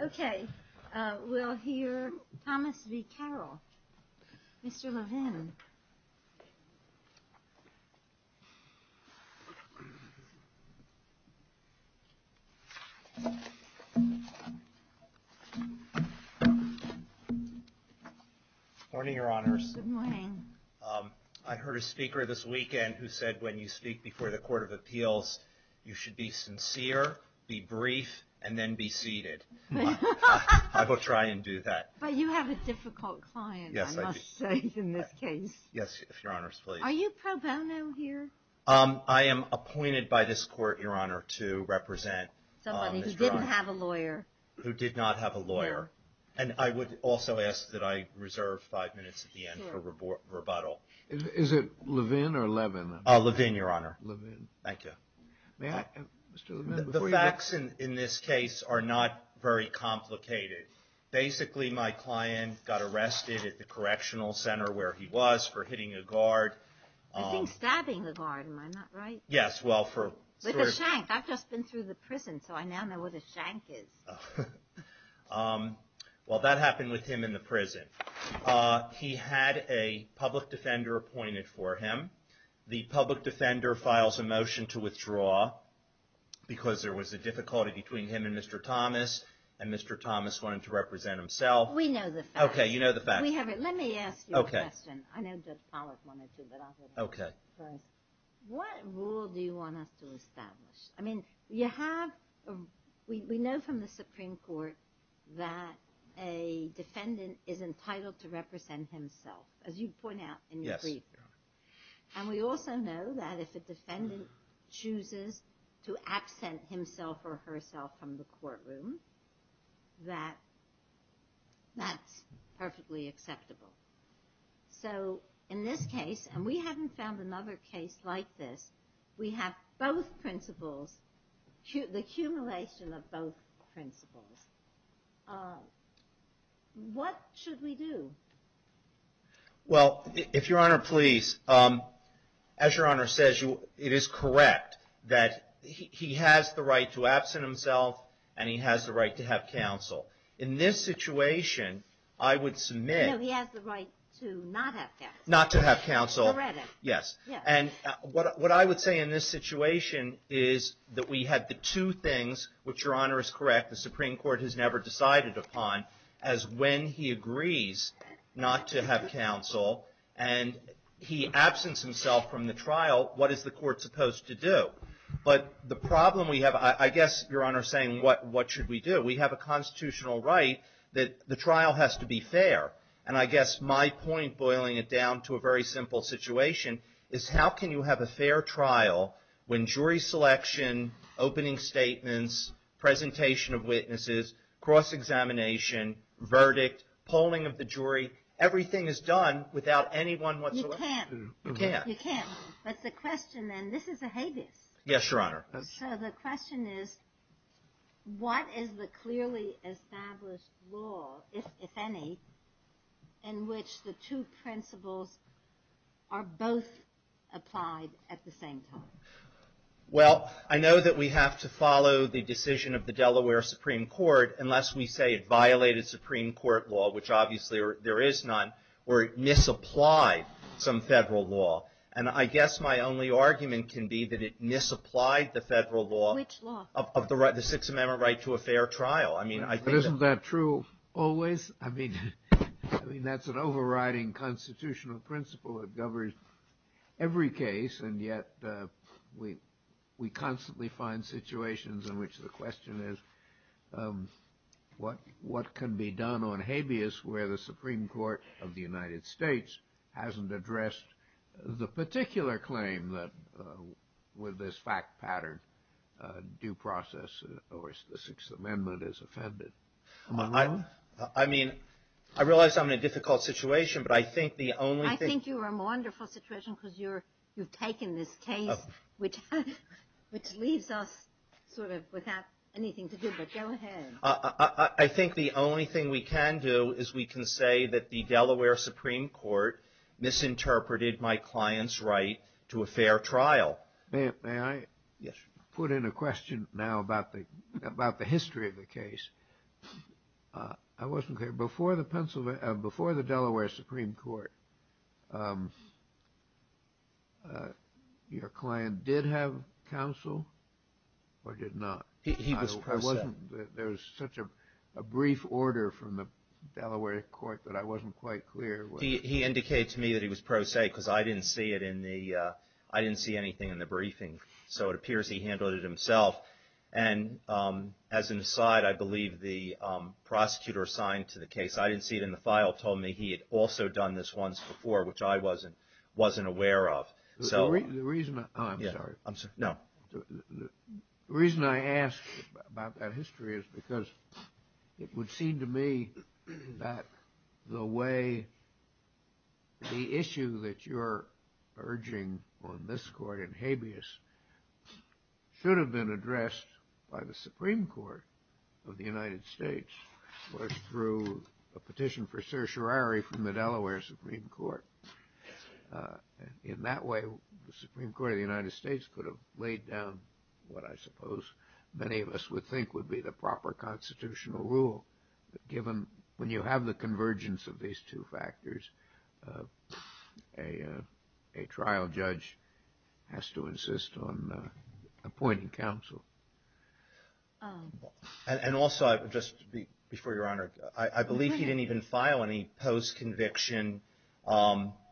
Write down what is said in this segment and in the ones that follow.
Okay, we'll hear Thomas v. Caroll. Mr. Levin. Morning, your honors. Good morning. I heard a speaker this weekend who said when you speak before the Court of Appeals, you should be sincere, be brief, and then be seated. I will try and do that. But you have a difficult client, I must say, in this case. Yes, your honors, please. Are you pro bono here? I am appointed by this Court, your honor, to represent Mr. Rahn. Somebody who didn't have a lawyer. Who did not have a lawyer. And I would also ask that I reserve five minutes at the end for rebuttal. Is it Levin or Levin? Levin, your honor. Thank you. The facts in this case are not very complicated. Basically, my client got arrested at the correctional center where he was for hitting a guard. I think stabbing a guard. Am I not right? Yes, well for... With a shank. I've just been through the prison, so I now know where the shank is. Well, that happened with him in the prison. He had a public defender appointed for him. The public defender files a motion to withdraw because there was a difficulty between him and Mr. Thomas. And Mr. Thomas wanted to represent himself. We know the facts. Okay, you know the facts. Let me ask you a question. I know Judge Pollack wanted to, but I'll go first. What rule do you want us to establish? I mean, we know from the Supreme Court that a defendant is entitled to represent himself. As you point out in your brief. And we also know that if a defendant chooses to absent himself or herself from the courtroom, that that's perfectly acceptable. So in this case, and we haven't found another case like this, we have both principles, the accumulation of both principles. What should we do? Well, if Your Honor, please, as Your Honor says, it is correct that he has the right to absent himself and he has the right to have counsel. In this situation, I would submit... No, he has the right to not have counsel. Not to have counsel. Correct. Yes. And what I would say in this situation is that we have the two things, which Your Honor is correct, the Supreme Court has never decided upon, as when he agrees not to have counsel and he absents himself from the trial, what is the court supposed to do? But the problem we have, I guess Your Honor is saying, what should we do? We have a constitutional right that the trial has to be fair. And I guess my point, boiling it down to a very simple situation, is how can you have a fair trial when jury selection, opening statements, presentation of witnesses, cross-examination, verdict, polling of the jury, everything is done without anyone... You can't. You can't. You can't. But the question then, this is a habeas. Yes, Your Honor. So the question is, what is the clearly established law, if any, in which the two principles are both applied at the same time? Well, I know that we have to follow the decision of the Delaware Supreme Court unless we say it violated Supreme Court law, which obviously there is none, or it misapplied some federal law. And I guess my only argument can be that it misapplied the federal law... Which law? ...of the Sixth Amendment right to a fair trial. But isn't that true always? I mean, that's an overriding constitutional principle that governs every case, and yet we constantly find situations in which the question is, what can be done on habeas where the Supreme Court of the United States hasn't addressed the particular claim that with this fact pattern due process or the Sixth Amendment is offended? I mean, I realize I'm in a difficult situation, but I think the only thing... I think you're in a wonderful situation because you've taken this case, which leaves us sort of without anything to do, but go ahead. I think the only thing we can do is we can say that the Delaware Supreme Court misinterpreted my client's right to a fair trial. May I? Yes. Let me just put in a question now about the history of the case. I wasn't clear. Before the Delaware Supreme Court, your client did have counsel or did not? He was pro se. There was such a brief order from the Delaware court that I wasn't quite clear. He indicated to me that he was pro se because I didn't see anything in the briefing. So it appears he handled it himself. And as an aside, I believe the prosecutor assigned to the case, I didn't see it in the file, told me he had also done this once before, which I wasn't aware of. I'm sorry. No. The reason I ask about that history is because it would seem to me that the way the issue that you're urging on this court in habeas should have been addressed by the Supreme Court of the United States, was through a petition for certiorari from the Delaware Supreme Court. In that way, the Supreme Court of the United States could have laid down what I suppose many of us would think would be the proper constitutional rule, given when you have the convergence of these two factors, a trial judge has to insist on appointing counsel. And also, just before Your Honor, I believe he didn't even file any post-conviction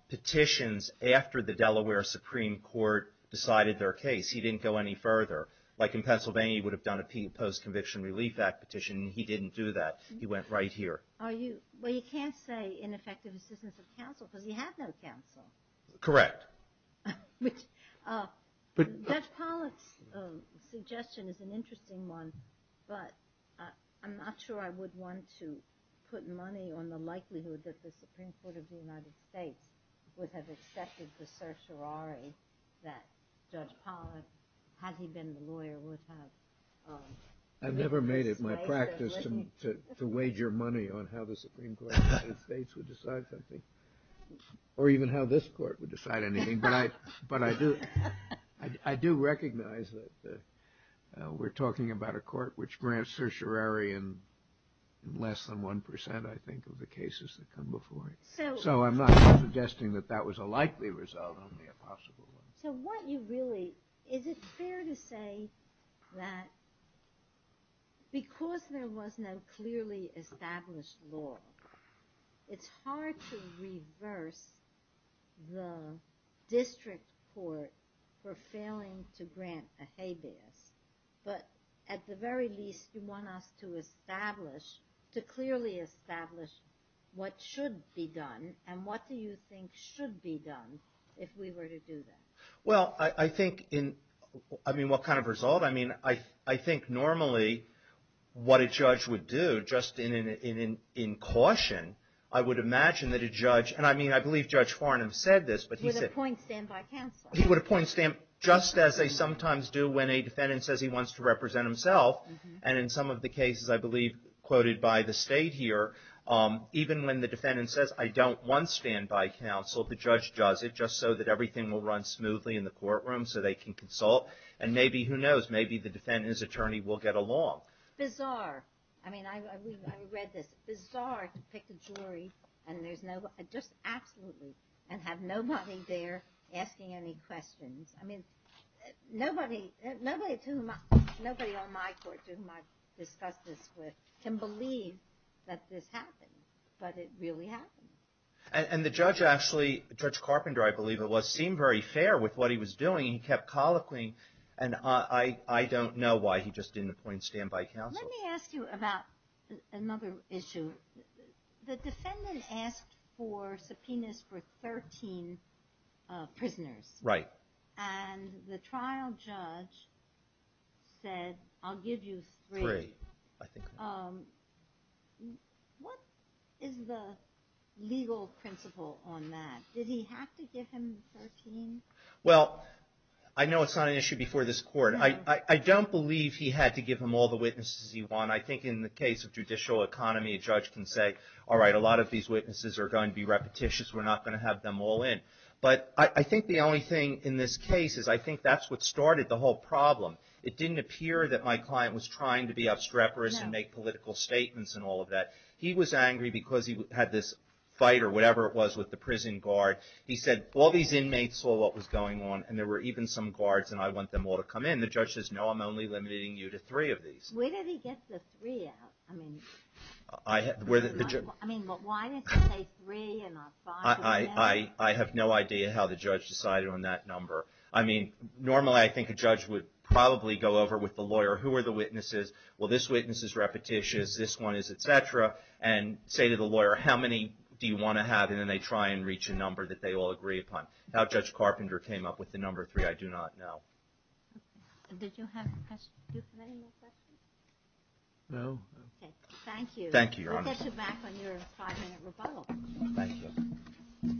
petitions after the Delaware Supreme Court decided their case. He didn't go any further. Like in Pennsylvania, he would have done a post-conviction relief act petition. He didn't do that. He went right here. Well, you can't say ineffective assistance of counsel because he had no counsel. Correct. Judge Pollack's suggestion is an interesting one, but I'm not sure I would want to put money on the likelihood that the Supreme Court of the United States would have accepted the certiorari that Judge Pollack, had he been the lawyer, would have. I've never made it my practice to wager money on how the Supreme Court of the United States would decide something, or even how this court would decide anything. But I do recognize that we're talking about a court which grants certiorari in less than 1%, I think, of the cases that come before it. So I'm not suggesting that that was a likely result, only a possible one. Is it fair to say that because there was no clearly established law, it's hard to reverse the district court for failing to grant a habeas? But at the very least, you want us to establish, to clearly establish what should be done, and what do you think should be done if we were to do that? Well, I think in, I mean, what kind of result? I mean, I think normally what a judge would do, just in caution, I would imagine that a judge, and I mean, I believe Judge Farnham said this. With a point stand by counsel. He would appoint a stand, just as they sometimes do when a defendant says he wants to represent himself. And in some of the cases I believe quoted by the state here, even when the defendant says, I don't want stand by counsel, the judge does it just so that everything will run smoothly in the courtroom so they can consult. And maybe, who knows, maybe the defendant's attorney will get along. Bizarre. I mean, I read this. Bizarre to pick a jury and there's no, just absolutely, and have nobody there asking any questions. I mean, nobody, nobody to whom, nobody on my court to whom I've discussed this with can believe that this happened, but it really happened. And the judge actually, Judge Carpenter I believe it was, seemed very fair with what he was doing. He kept colloquying and I don't know why he just didn't appoint stand by counsel. Let me ask you about another issue. The defendant asked for subpoenas for 13 prisoners. Right. And the trial judge said, I'll give you three. Three, I think. What is the legal principle on that? Did he have to give him 13? Well, I know it's not an issue before this court. I don't believe he had to give him all the witnesses he won. I think in the case of judicial economy, a judge can say, all right, a lot of these witnesses are going to be repetitious. We're not going to have them all in. But I think the only thing in this case is I think that's what started the whole problem. It didn't appear that my client was trying to be obstreperous and make political statements and all of that. He was angry because he had this fight or whatever it was with the prison guard. He said, all these inmates saw what was going on, and there were even some guards, and I want them all to come in. The judge says, no, I'm only limiting you to three of these. Where did he get the three out? I mean, why did he say three and not five? I have no idea how the judge decided on that number. I mean, normally I think a judge would probably go over with the lawyer, who are the witnesses? Well, this witness is repetitious. This one is, et cetera. And say to the lawyer, how many do you want to have? And then they try and reach a number that they all agree upon. How Judge Carpenter came up with the number three, I do not know. Did you have any more questions? No. Okay. Thank you. Thank you, Your Honor. We'll get you back on your five-minute rebuttal. Thank you.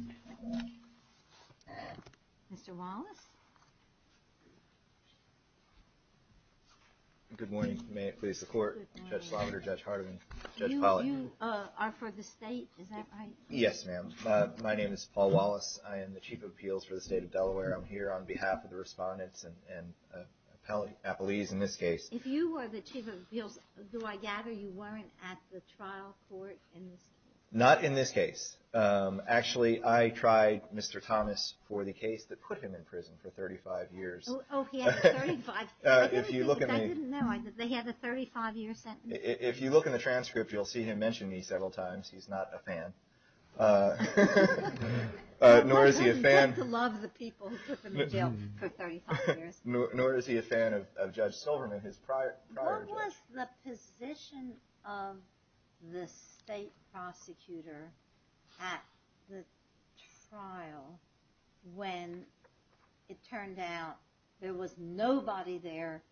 Mr. Wallace? Good morning. May it please the Court? Good morning. You are for the State, is that right? Yes, ma'am. My name is Paul Wallace. I am the Chief of Appeals for the State of Delaware. I'm here on behalf of the respondents and appellees in this case. If you were the Chief of Appeals, do I gather you weren't at the trial court in this case? Not in this case. Actually, I tried Mr. Thomas for the case that put him in prison for 35 years. Oh, he had a 35-year sentence? I didn't know. They had a 35-year sentence? If you look in the transcript, you'll see him mention me several times. He's not a fan. Nor is he a fan of Judge Silverman, his prior judge. What was the position of the State prosecutor at the trial when it turned out there was nobody there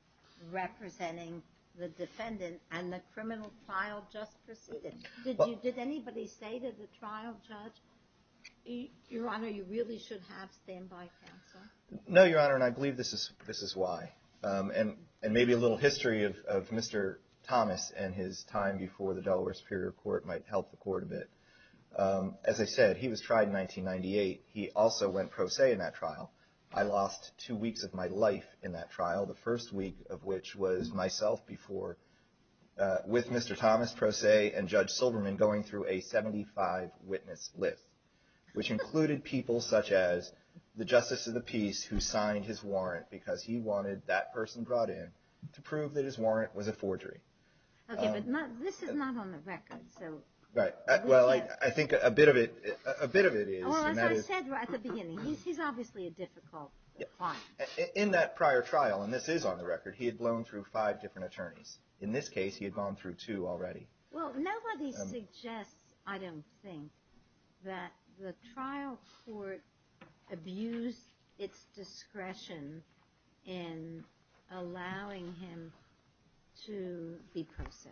representing the defendant and the criminal trial just proceeded? Did anybody say to the trial judge, Your Honor, you really should have standby counsel? No, Your Honor, and I believe this is why. And maybe a little history of Mr. Thomas and his time before the Delaware Superior Court might help the court a bit. As I said, he was tried in 1998. He also went pro se in that trial. I lost two weeks of my life in that trial, the first week of which was myself before with Mr. Thomas pro se and Judge Silverman going through a 75-witness list, which included people such as the Justice of the Peace, who signed his warrant because he wanted that person brought in to prove that his warrant was a forgery. Okay, but this is not on the record. Right. Well, I think a bit of it is. Well, as I said at the beginning, he's obviously a difficult client. In that prior trial, and this is on the record, he had blown through five different attorneys. In this case, he had gone through two already. Well, nobody suggests, I don't think, that the trial court abused its discretion in allowing him to be pro se.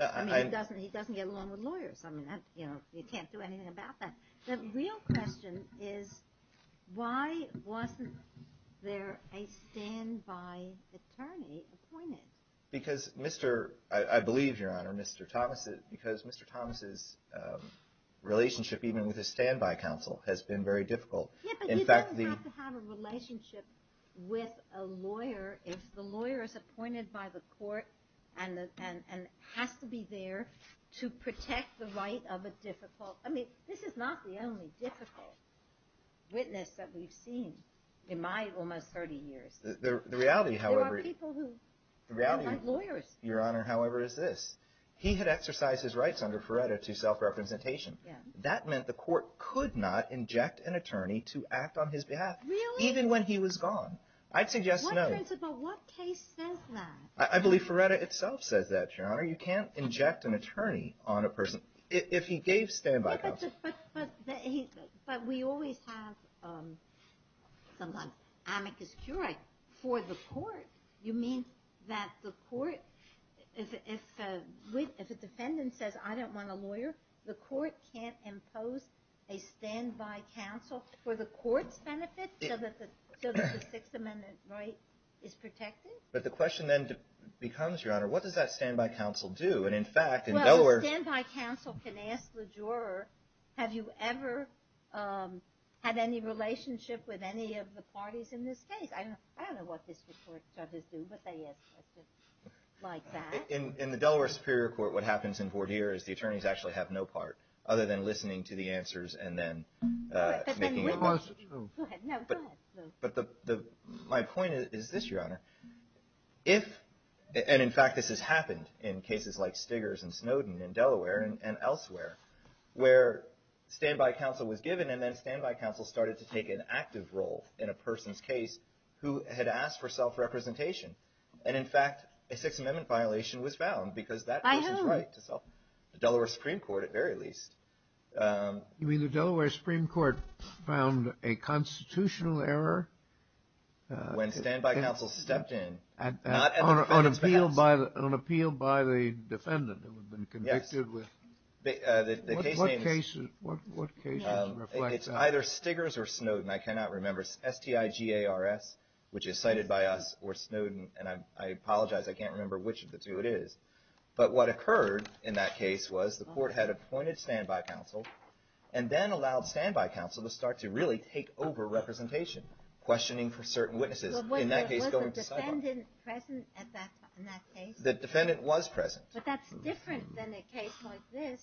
I mean, he doesn't get along with lawyers. I mean, you can't do anything about that. The real question is why wasn't there a standby attorney appointed? Because Mr. – I believe, Your Honor, Mr. Thomas – because Mr. Thomas' relationship even with his standby counsel has been very difficult. Yeah, but you don't have to have a relationship with a lawyer if the lawyer is appointed by the court and has to be there to protect the right of a difficult – I mean, this is not the only difficult witness that we've seen in my almost 30 years. The reality, however – There are people who don't like lawyers. The reality, Your Honor, however, is this. He had exercised his rights under Feretta to self-representation. Yeah. That meant the court could not inject an attorney to act on his behalf. Really? Even when he was gone. I'd suggest no. But what case says that? I believe Feretta itself says that, Your Honor. You can't inject an attorney on a person if he gave standby counsel. But we always have sometimes amicus curiae for the court. You mean that the court – if a defendant says, I don't want a lawyer, the court can't impose a standby counsel for the court's benefit so that the Sixth Amendment right is protected? But the question then becomes, Your Honor, what does that standby counsel do? Well, a standby counsel can ask the juror, have you ever had any relationship with any of the parties in this case? I don't know what this court judges do, but they ask questions like that. In the Delaware Superior Court, what happens in voir dire is the attorneys actually have no part other than listening to the answers and then making – Go ahead. No, go ahead. My point is this, Your Honor. If – and, in fact, this has happened in cases like Stiggers and Snowden and Delaware and elsewhere, where standby counsel was given and then standby counsel started to take an active role in a person's case who had asked for self-representation. And, in fact, a Sixth Amendment violation was found because that person's right to self – I heard. The Delaware Supreme Court, at very least. You mean the Delaware Supreme Court found a constitutional error? When standby counsel stepped in, not at the defendant's behest. On appeal by the defendant who had been convicted with – Yes. The case name is – What case is reflected? It's either Stiggers or Snowden. I cannot remember. It's S-T-I-G-A-R-S, which is cited by us, or Snowden. And I apologize. I can't remember which of the two it is. But what occurred in that case was the court had appointed standby counsel and then allowed standby counsel to start to really take over representation, questioning for certain witnesses. In that case, going to – Was the defendant present in that case? The defendant was present. But that's different than a case like this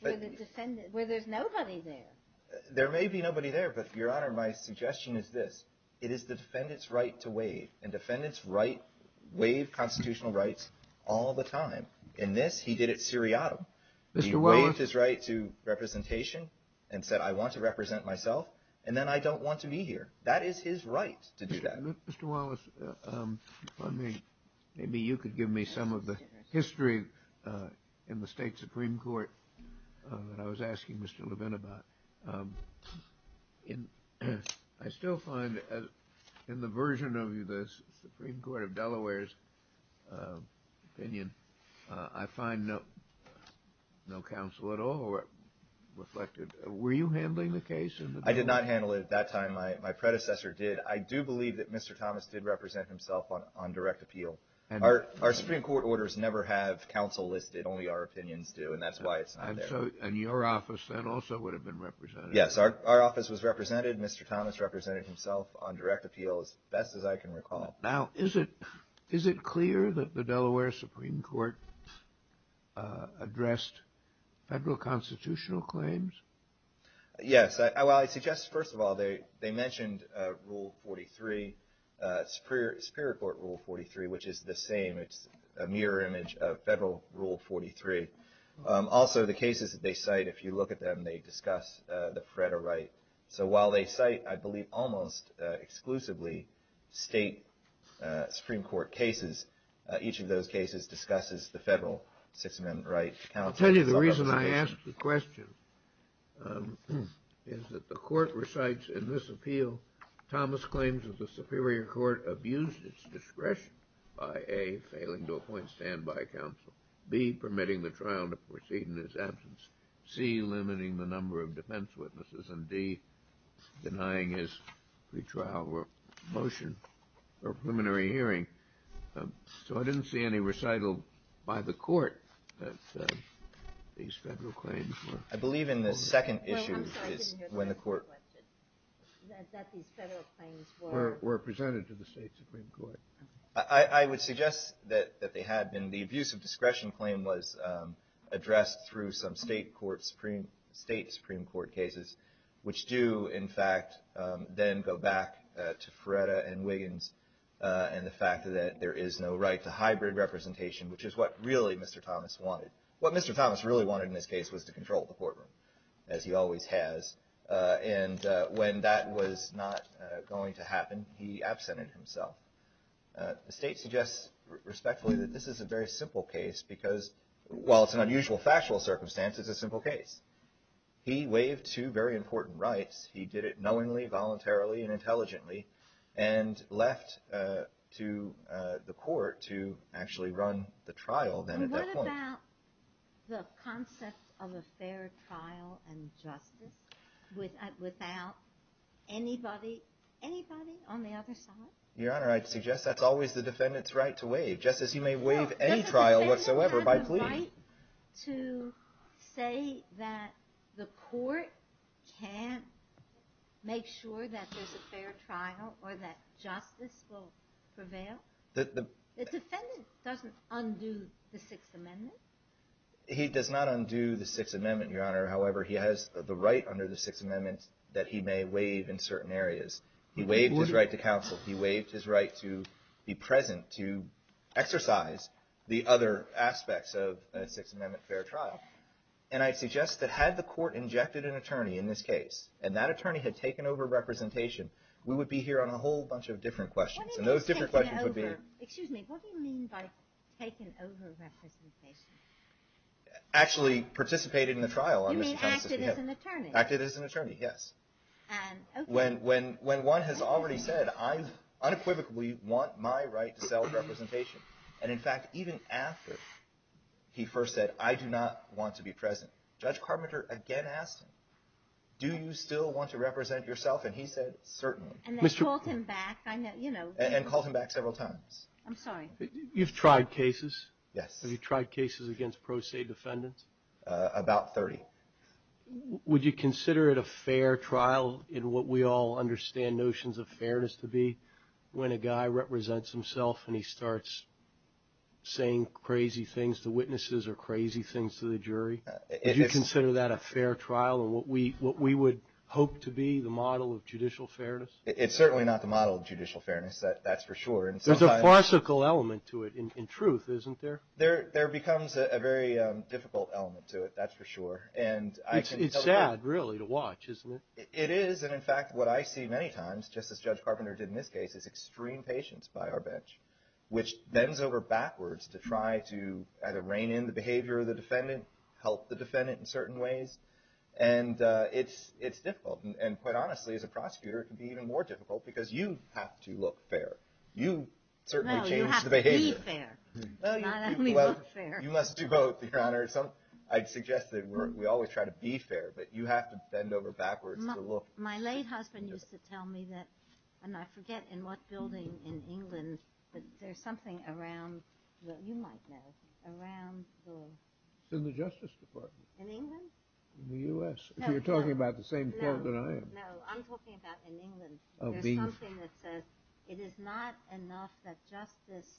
where the defendant – where there's nobody there. There may be nobody there, but, Your Honor, my suggestion is this. It is the defendant's right to waive, and defendants waive constitutional rights all the time. In this, he did it seriatim. He waived his right to representation and said, I want to represent myself, and then I don't want to be here. That is his right to do that. Mr. Wallace, maybe you could give me some of the history in the State Supreme Court that I was asking Mr. Levin about. I still find in the version of the Supreme Court of Delaware's opinion, I find no counsel at all reflected. Were you handling the case? I did not handle it at that time. My predecessor did. I do believe that Mr. Thomas did represent himself on direct appeal. Our Supreme Court orders never have counsel listed. Only our opinions do, and that's why it's not there. And your office then also would have been represented. Yes. Our office was represented. Mr. Thomas represented himself on direct appeal, as best as I can recall. Now, is it clear that the Delaware Supreme Court addressed federal constitutional claims? Yes. Well, I suggest, first of all, they mentioned Rule 43, Superior Court Rule 43, which is the same. It's a mirror image of federal Rule 43. Also, the cases that they cite, if you look at them, they discuss the Fretta right. So while they cite, I believe, almost exclusively state Supreme Court cases, each of those cases discusses the federal Sixth Amendment right. And I'll tell you the reason I asked the question is that the court recites in this appeal, Thomas claims that the Superior Court abused its discretion by, A, failing to appoint standby counsel, B, permitting the trial to proceed in his absence, C, limiting the number of defense witnesses, and D, denying his pre-trial motion or preliminary hearing. So I didn't see any recital by the court that these federal claims were. I believe in the second issue is when the court. That these federal claims were presented to the state Supreme Court. I would suggest that they had been. The abuse of discretion claim was addressed through some state Supreme Court cases, which do, in fact, then go back to Fretta and Wiggins and the fact that there is no right to hybrid representation, which is what really Mr. Thomas wanted. What Mr. Thomas really wanted in this case was to control the courtroom, as he always has. And when that was not going to happen, he absented himself. The state suggests respectfully that this is a very simple case because while it's an unusual factual circumstance, it's a simple case. He waived two very important rights. He did it knowingly, voluntarily, and intelligently, and left to the court to actually run the trial then at that point. And what about the concept of a fair trial and justice without anybody on the other side? Your Honor, I'd suggest that's always the defendant's right to waive, just as you may waive any trial whatsoever by plea. Is it his right to say that the court can't make sure that there's a fair trial or that justice will prevail? The defendant doesn't undo the Sixth Amendment. He does not undo the Sixth Amendment, Your Honor. However, he has the right under the Sixth Amendment that he may waive in certain areas. He waived his right to counsel. He waived his right to be present to exercise the other aspects of a Sixth Amendment fair trial. And I'd suggest that had the court injected an attorney in this case, and that attorney had taken over representation, we would be here on a whole bunch of different questions. And those different questions would be – What do you mean by taking over? Excuse me. What do you mean by taken over representation? Actually participated in the trial on Mr. Thomas's behalf. You mean acted as an attorney? Acted as an attorney, yes. Okay. When one has already said, I unequivocally want my right to self-representation. And in fact, even after he first said, I do not want to be present, Judge Carpenter again asked him, do you still want to represent yourself? And he said, certainly. And then called him back, you know. And called him back several times. I'm sorry. You've tried cases? Yes. Have you tried cases against pro se defendants? About 30. Would you consider it a fair trial in what we all understand notions of fairness to be, when a guy represents himself and he starts saying crazy things to witnesses or crazy things to the jury? Would you consider that a fair trial in what we would hope to be the model of judicial fairness? It's certainly not the model of judicial fairness. That's for sure. There's a farcical element to it in truth, isn't there? There becomes a very difficult element to it. That's for sure. It's sad, really, to watch, isn't it? It is. And in fact, what I see many times, just as Judge Carpenter did in this case, is extreme patience by our bench, which bends over backwards to try to either rein in the behavior of the defendant, help the defendant in certain ways. And it's difficult. And quite honestly, as a prosecutor, it can be even more difficult because you have to look fair. You certainly change the behavior. No, you have to be fair, not only look fair. You must do both, Your Honor. I'd suggest that we always try to be fair, but you have to bend over backwards to look. My late husband used to tell me that, and I forget in what building in England, but there's something around, you might know, around the… It's in the Justice Department. In England? In the U.S., if you're talking about the same court that I am. No, I'm talking about in England. There's something that says, it is not enough that justice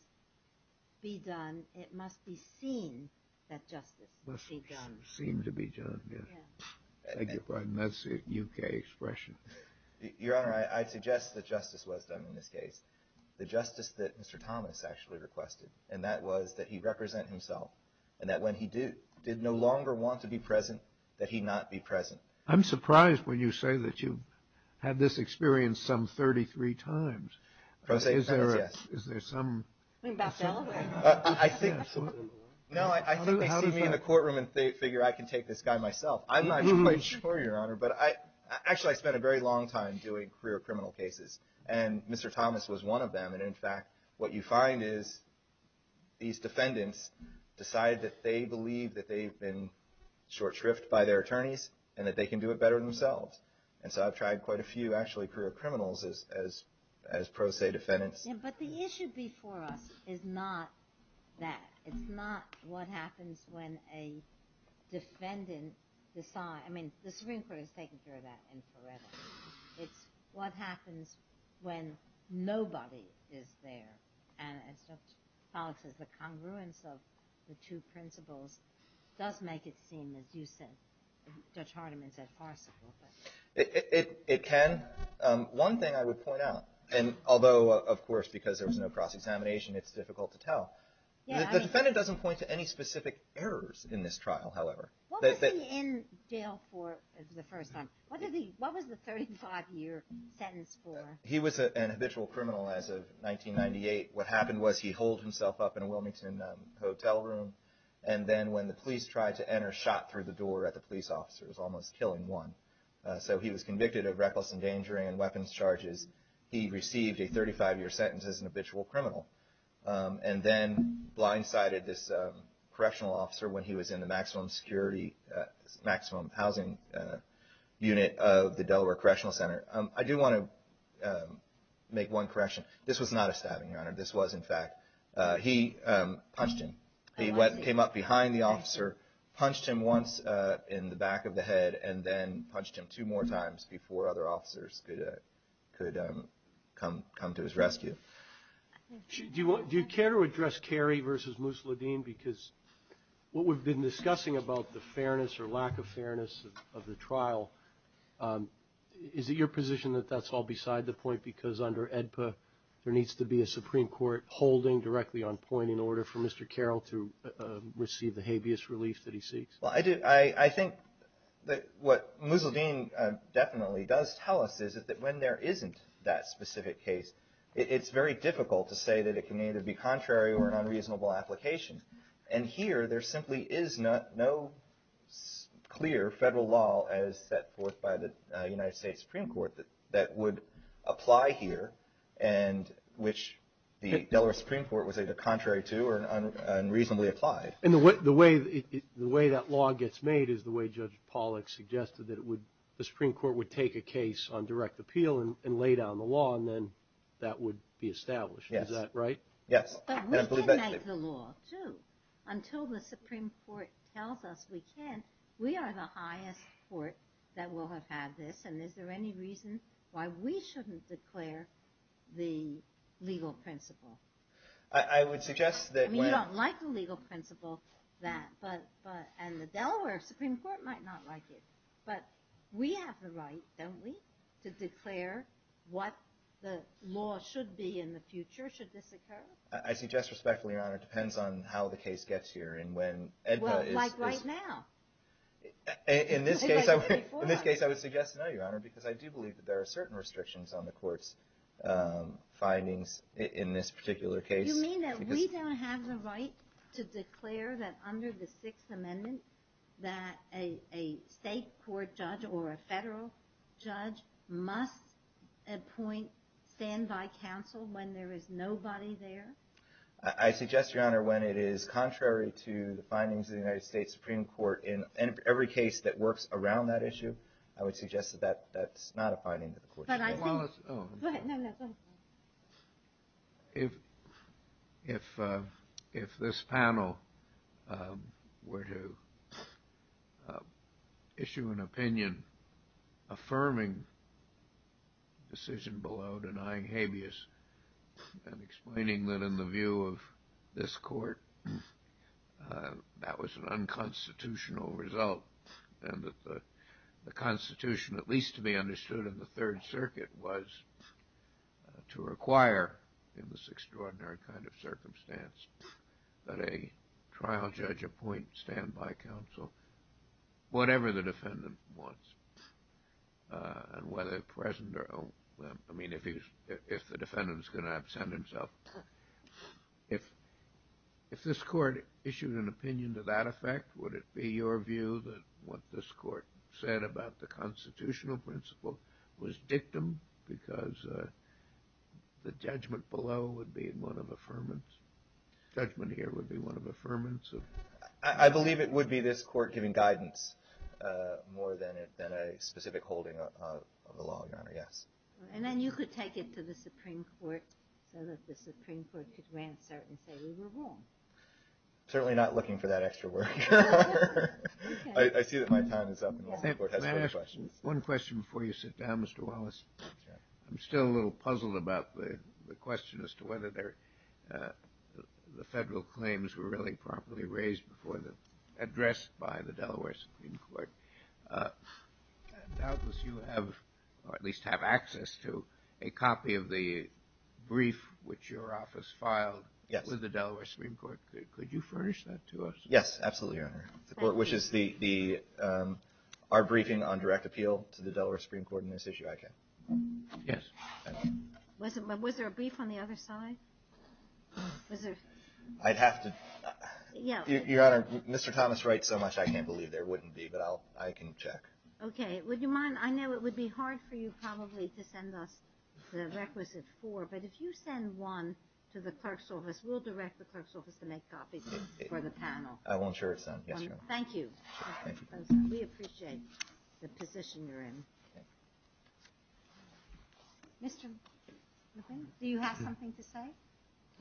be done, it must be seen that justice be done. Seen to be done, yes. Thank you for that. That's the U.K. expression. Your Honor, I suggest that justice was done in this case. The justice that Mr. Thomas actually requested, and that was that he represent himself, and that when he did no longer want to be present, that he not be present. I'm surprised when you say that you had this experience some 33 times. Is there some… I think they see me in the courtroom and they figure I can take this guy myself. I'm not quite sure, Your Honor, but actually I spent a very long time doing career criminal cases, and Mr. Thomas was one of them, and in fact, what you find is these defendants decide that they believe that they've been short shrifted by their attorneys and that they can do it better themselves. And so I've tried quite a few, actually, career criminals as pro se defendants. But the issue before us is not that. It's not what happens when a defendant decides. I mean, the Supreme Court has taken care of that in forever. It's what happens when nobody is there. And as Judge Pollack says, the congruence of the two principles does make it seem, as you said, as Judge Hardiman said, farcical. It can. One thing I would point out, and although, of course, because there was no cross-examination, it's difficult to tell. The defendant doesn't point to any specific errors in this trial, however. What was he in jail for the first time? What was the 35-year sentence for? He was an habitual criminal as of 1998. What happened was he holed himself up in a Wilmington hotel room, and then when the police tried to enter, shot through the door at the police officer. It was almost killing one. So he was convicted of reckless endangering and weapons charges. He received a 35-year sentence as an habitual criminal and then blindsided this correctional officer when he was in the maximum security, maximum housing unit of the Delaware Correctional Center. I do want to make one correction. This was not a stabbing, Your Honor. This was, in fact, he punched him. He came up behind the officer, punched him once in the back of the head, and then punched him two more times before other officers could come to his rescue. Do you care to address Carey v. Musladeen? Because what we've been discussing about the fairness or lack of fairness of the trial is it your position that that's all beside the point because under AEDPA there needs to be a Supreme Court holding directly on point in order for Mr. Carroll to receive the habeas relief that he seeks? Well, I think that what Musladeen definitely does tell us is that when there isn't that specific case, it's very difficult to say that it can either be contrary or an unreasonable application. And here there simply is no clear federal law as set forth by the United States Supreme Court that would apply here and which the Delaware Supreme Court was either contrary to or unreasonably applied. And the way that law gets made is the way Judge Pollack suggested that the Supreme Court would take a case on direct appeal and lay down the law and then that would be established. Is that right? Yes. But we can make the law, too, until the Supreme Court tells us we can't. We are the highest court that will have had this and is there any reason why we shouldn't declare the legal principle? I would suggest that when… You don't like the legal principle and the Delaware Supreme Court might not like it. But we have the right, don't we, to declare what the law should be in the future should this occur? I suggest respectfully, Your Honor, it depends on how the case gets here and when… Well, like right now. In this case I would suggest no, Your Honor, because I do believe that there are certain restrictions on the court's findings in this particular case. You mean that we don't have the right to declare that under the Sixth Amendment that a state court judge or a federal judge must appoint stand-by counsel when there is nobody there? I suggest, Your Honor, when it is contrary to the findings of the United States Supreme Court in every case that works around that issue, I would suggest that that's not a finding that the court should make. Go ahead. If this panel were to issue an opinion affirming the decision below denying habeas and explaining that in the view of this court that was an unconstitutional result and that the Constitution, at least to be understood in the Third Circuit, was to require in this extraordinary kind of circumstance that a trial judge appoint stand-by counsel whatever the defendant wants and whether present or… I mean if the defendant is going to absent himself. If this court issued an opinion to that effect, would it be your view that what this court said about the constitutional principle was dictum because the judgment below would be one of affirmance? Judgment here would be one of affirmance? I believe it would be this court giving guidance more than a specific holding of the law, Your Honor, yes. And then you could take it to the Supreme Court so that the Supreme Court could answer and say we were wrong. Certainly not looking for that extra work. I see that my time is up. May I ask one question before you sit down, Mr. Wallace? Sure. I'm still a little puzzled about the question as to whether the federal claims were really properly raised before they're addressed by the Delaware Supreme Court. Doubtless you have or at least have access to a copy of the brief which your office filed with the Delaware Supreme Court. Could you furnish that to us? Yes, absolutely, Your Honor. Which is our briefing on direct appeal to the Delaware Supreme Court in this issue. Yes. Was there a brief on the other side? I'd have to… Your Honor, Mr. Thomas writes so much I can't believe there wouldn't be but I can check. Okay. Would you mind? I know it would be hard for you probably to send us the requisite four but if you send one to the clerk's office, we'll direct the clerk's office to make copies for the panel. I will ensure it's done. Yes, Your Honor. Thank you. We appreciate the position you're in. Mr. McQueen, do you have something to say?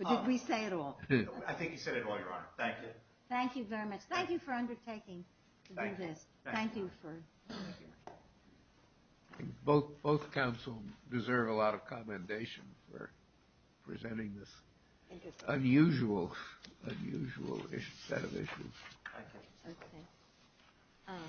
Or did we say it all? I think you said it all, Your Honor. Thank you. Thank you very much. Thank you for undertaking this. Thank you. Thank you. Both counsels deserve a lot of commendation for presenting this unusual set of issues. Okay.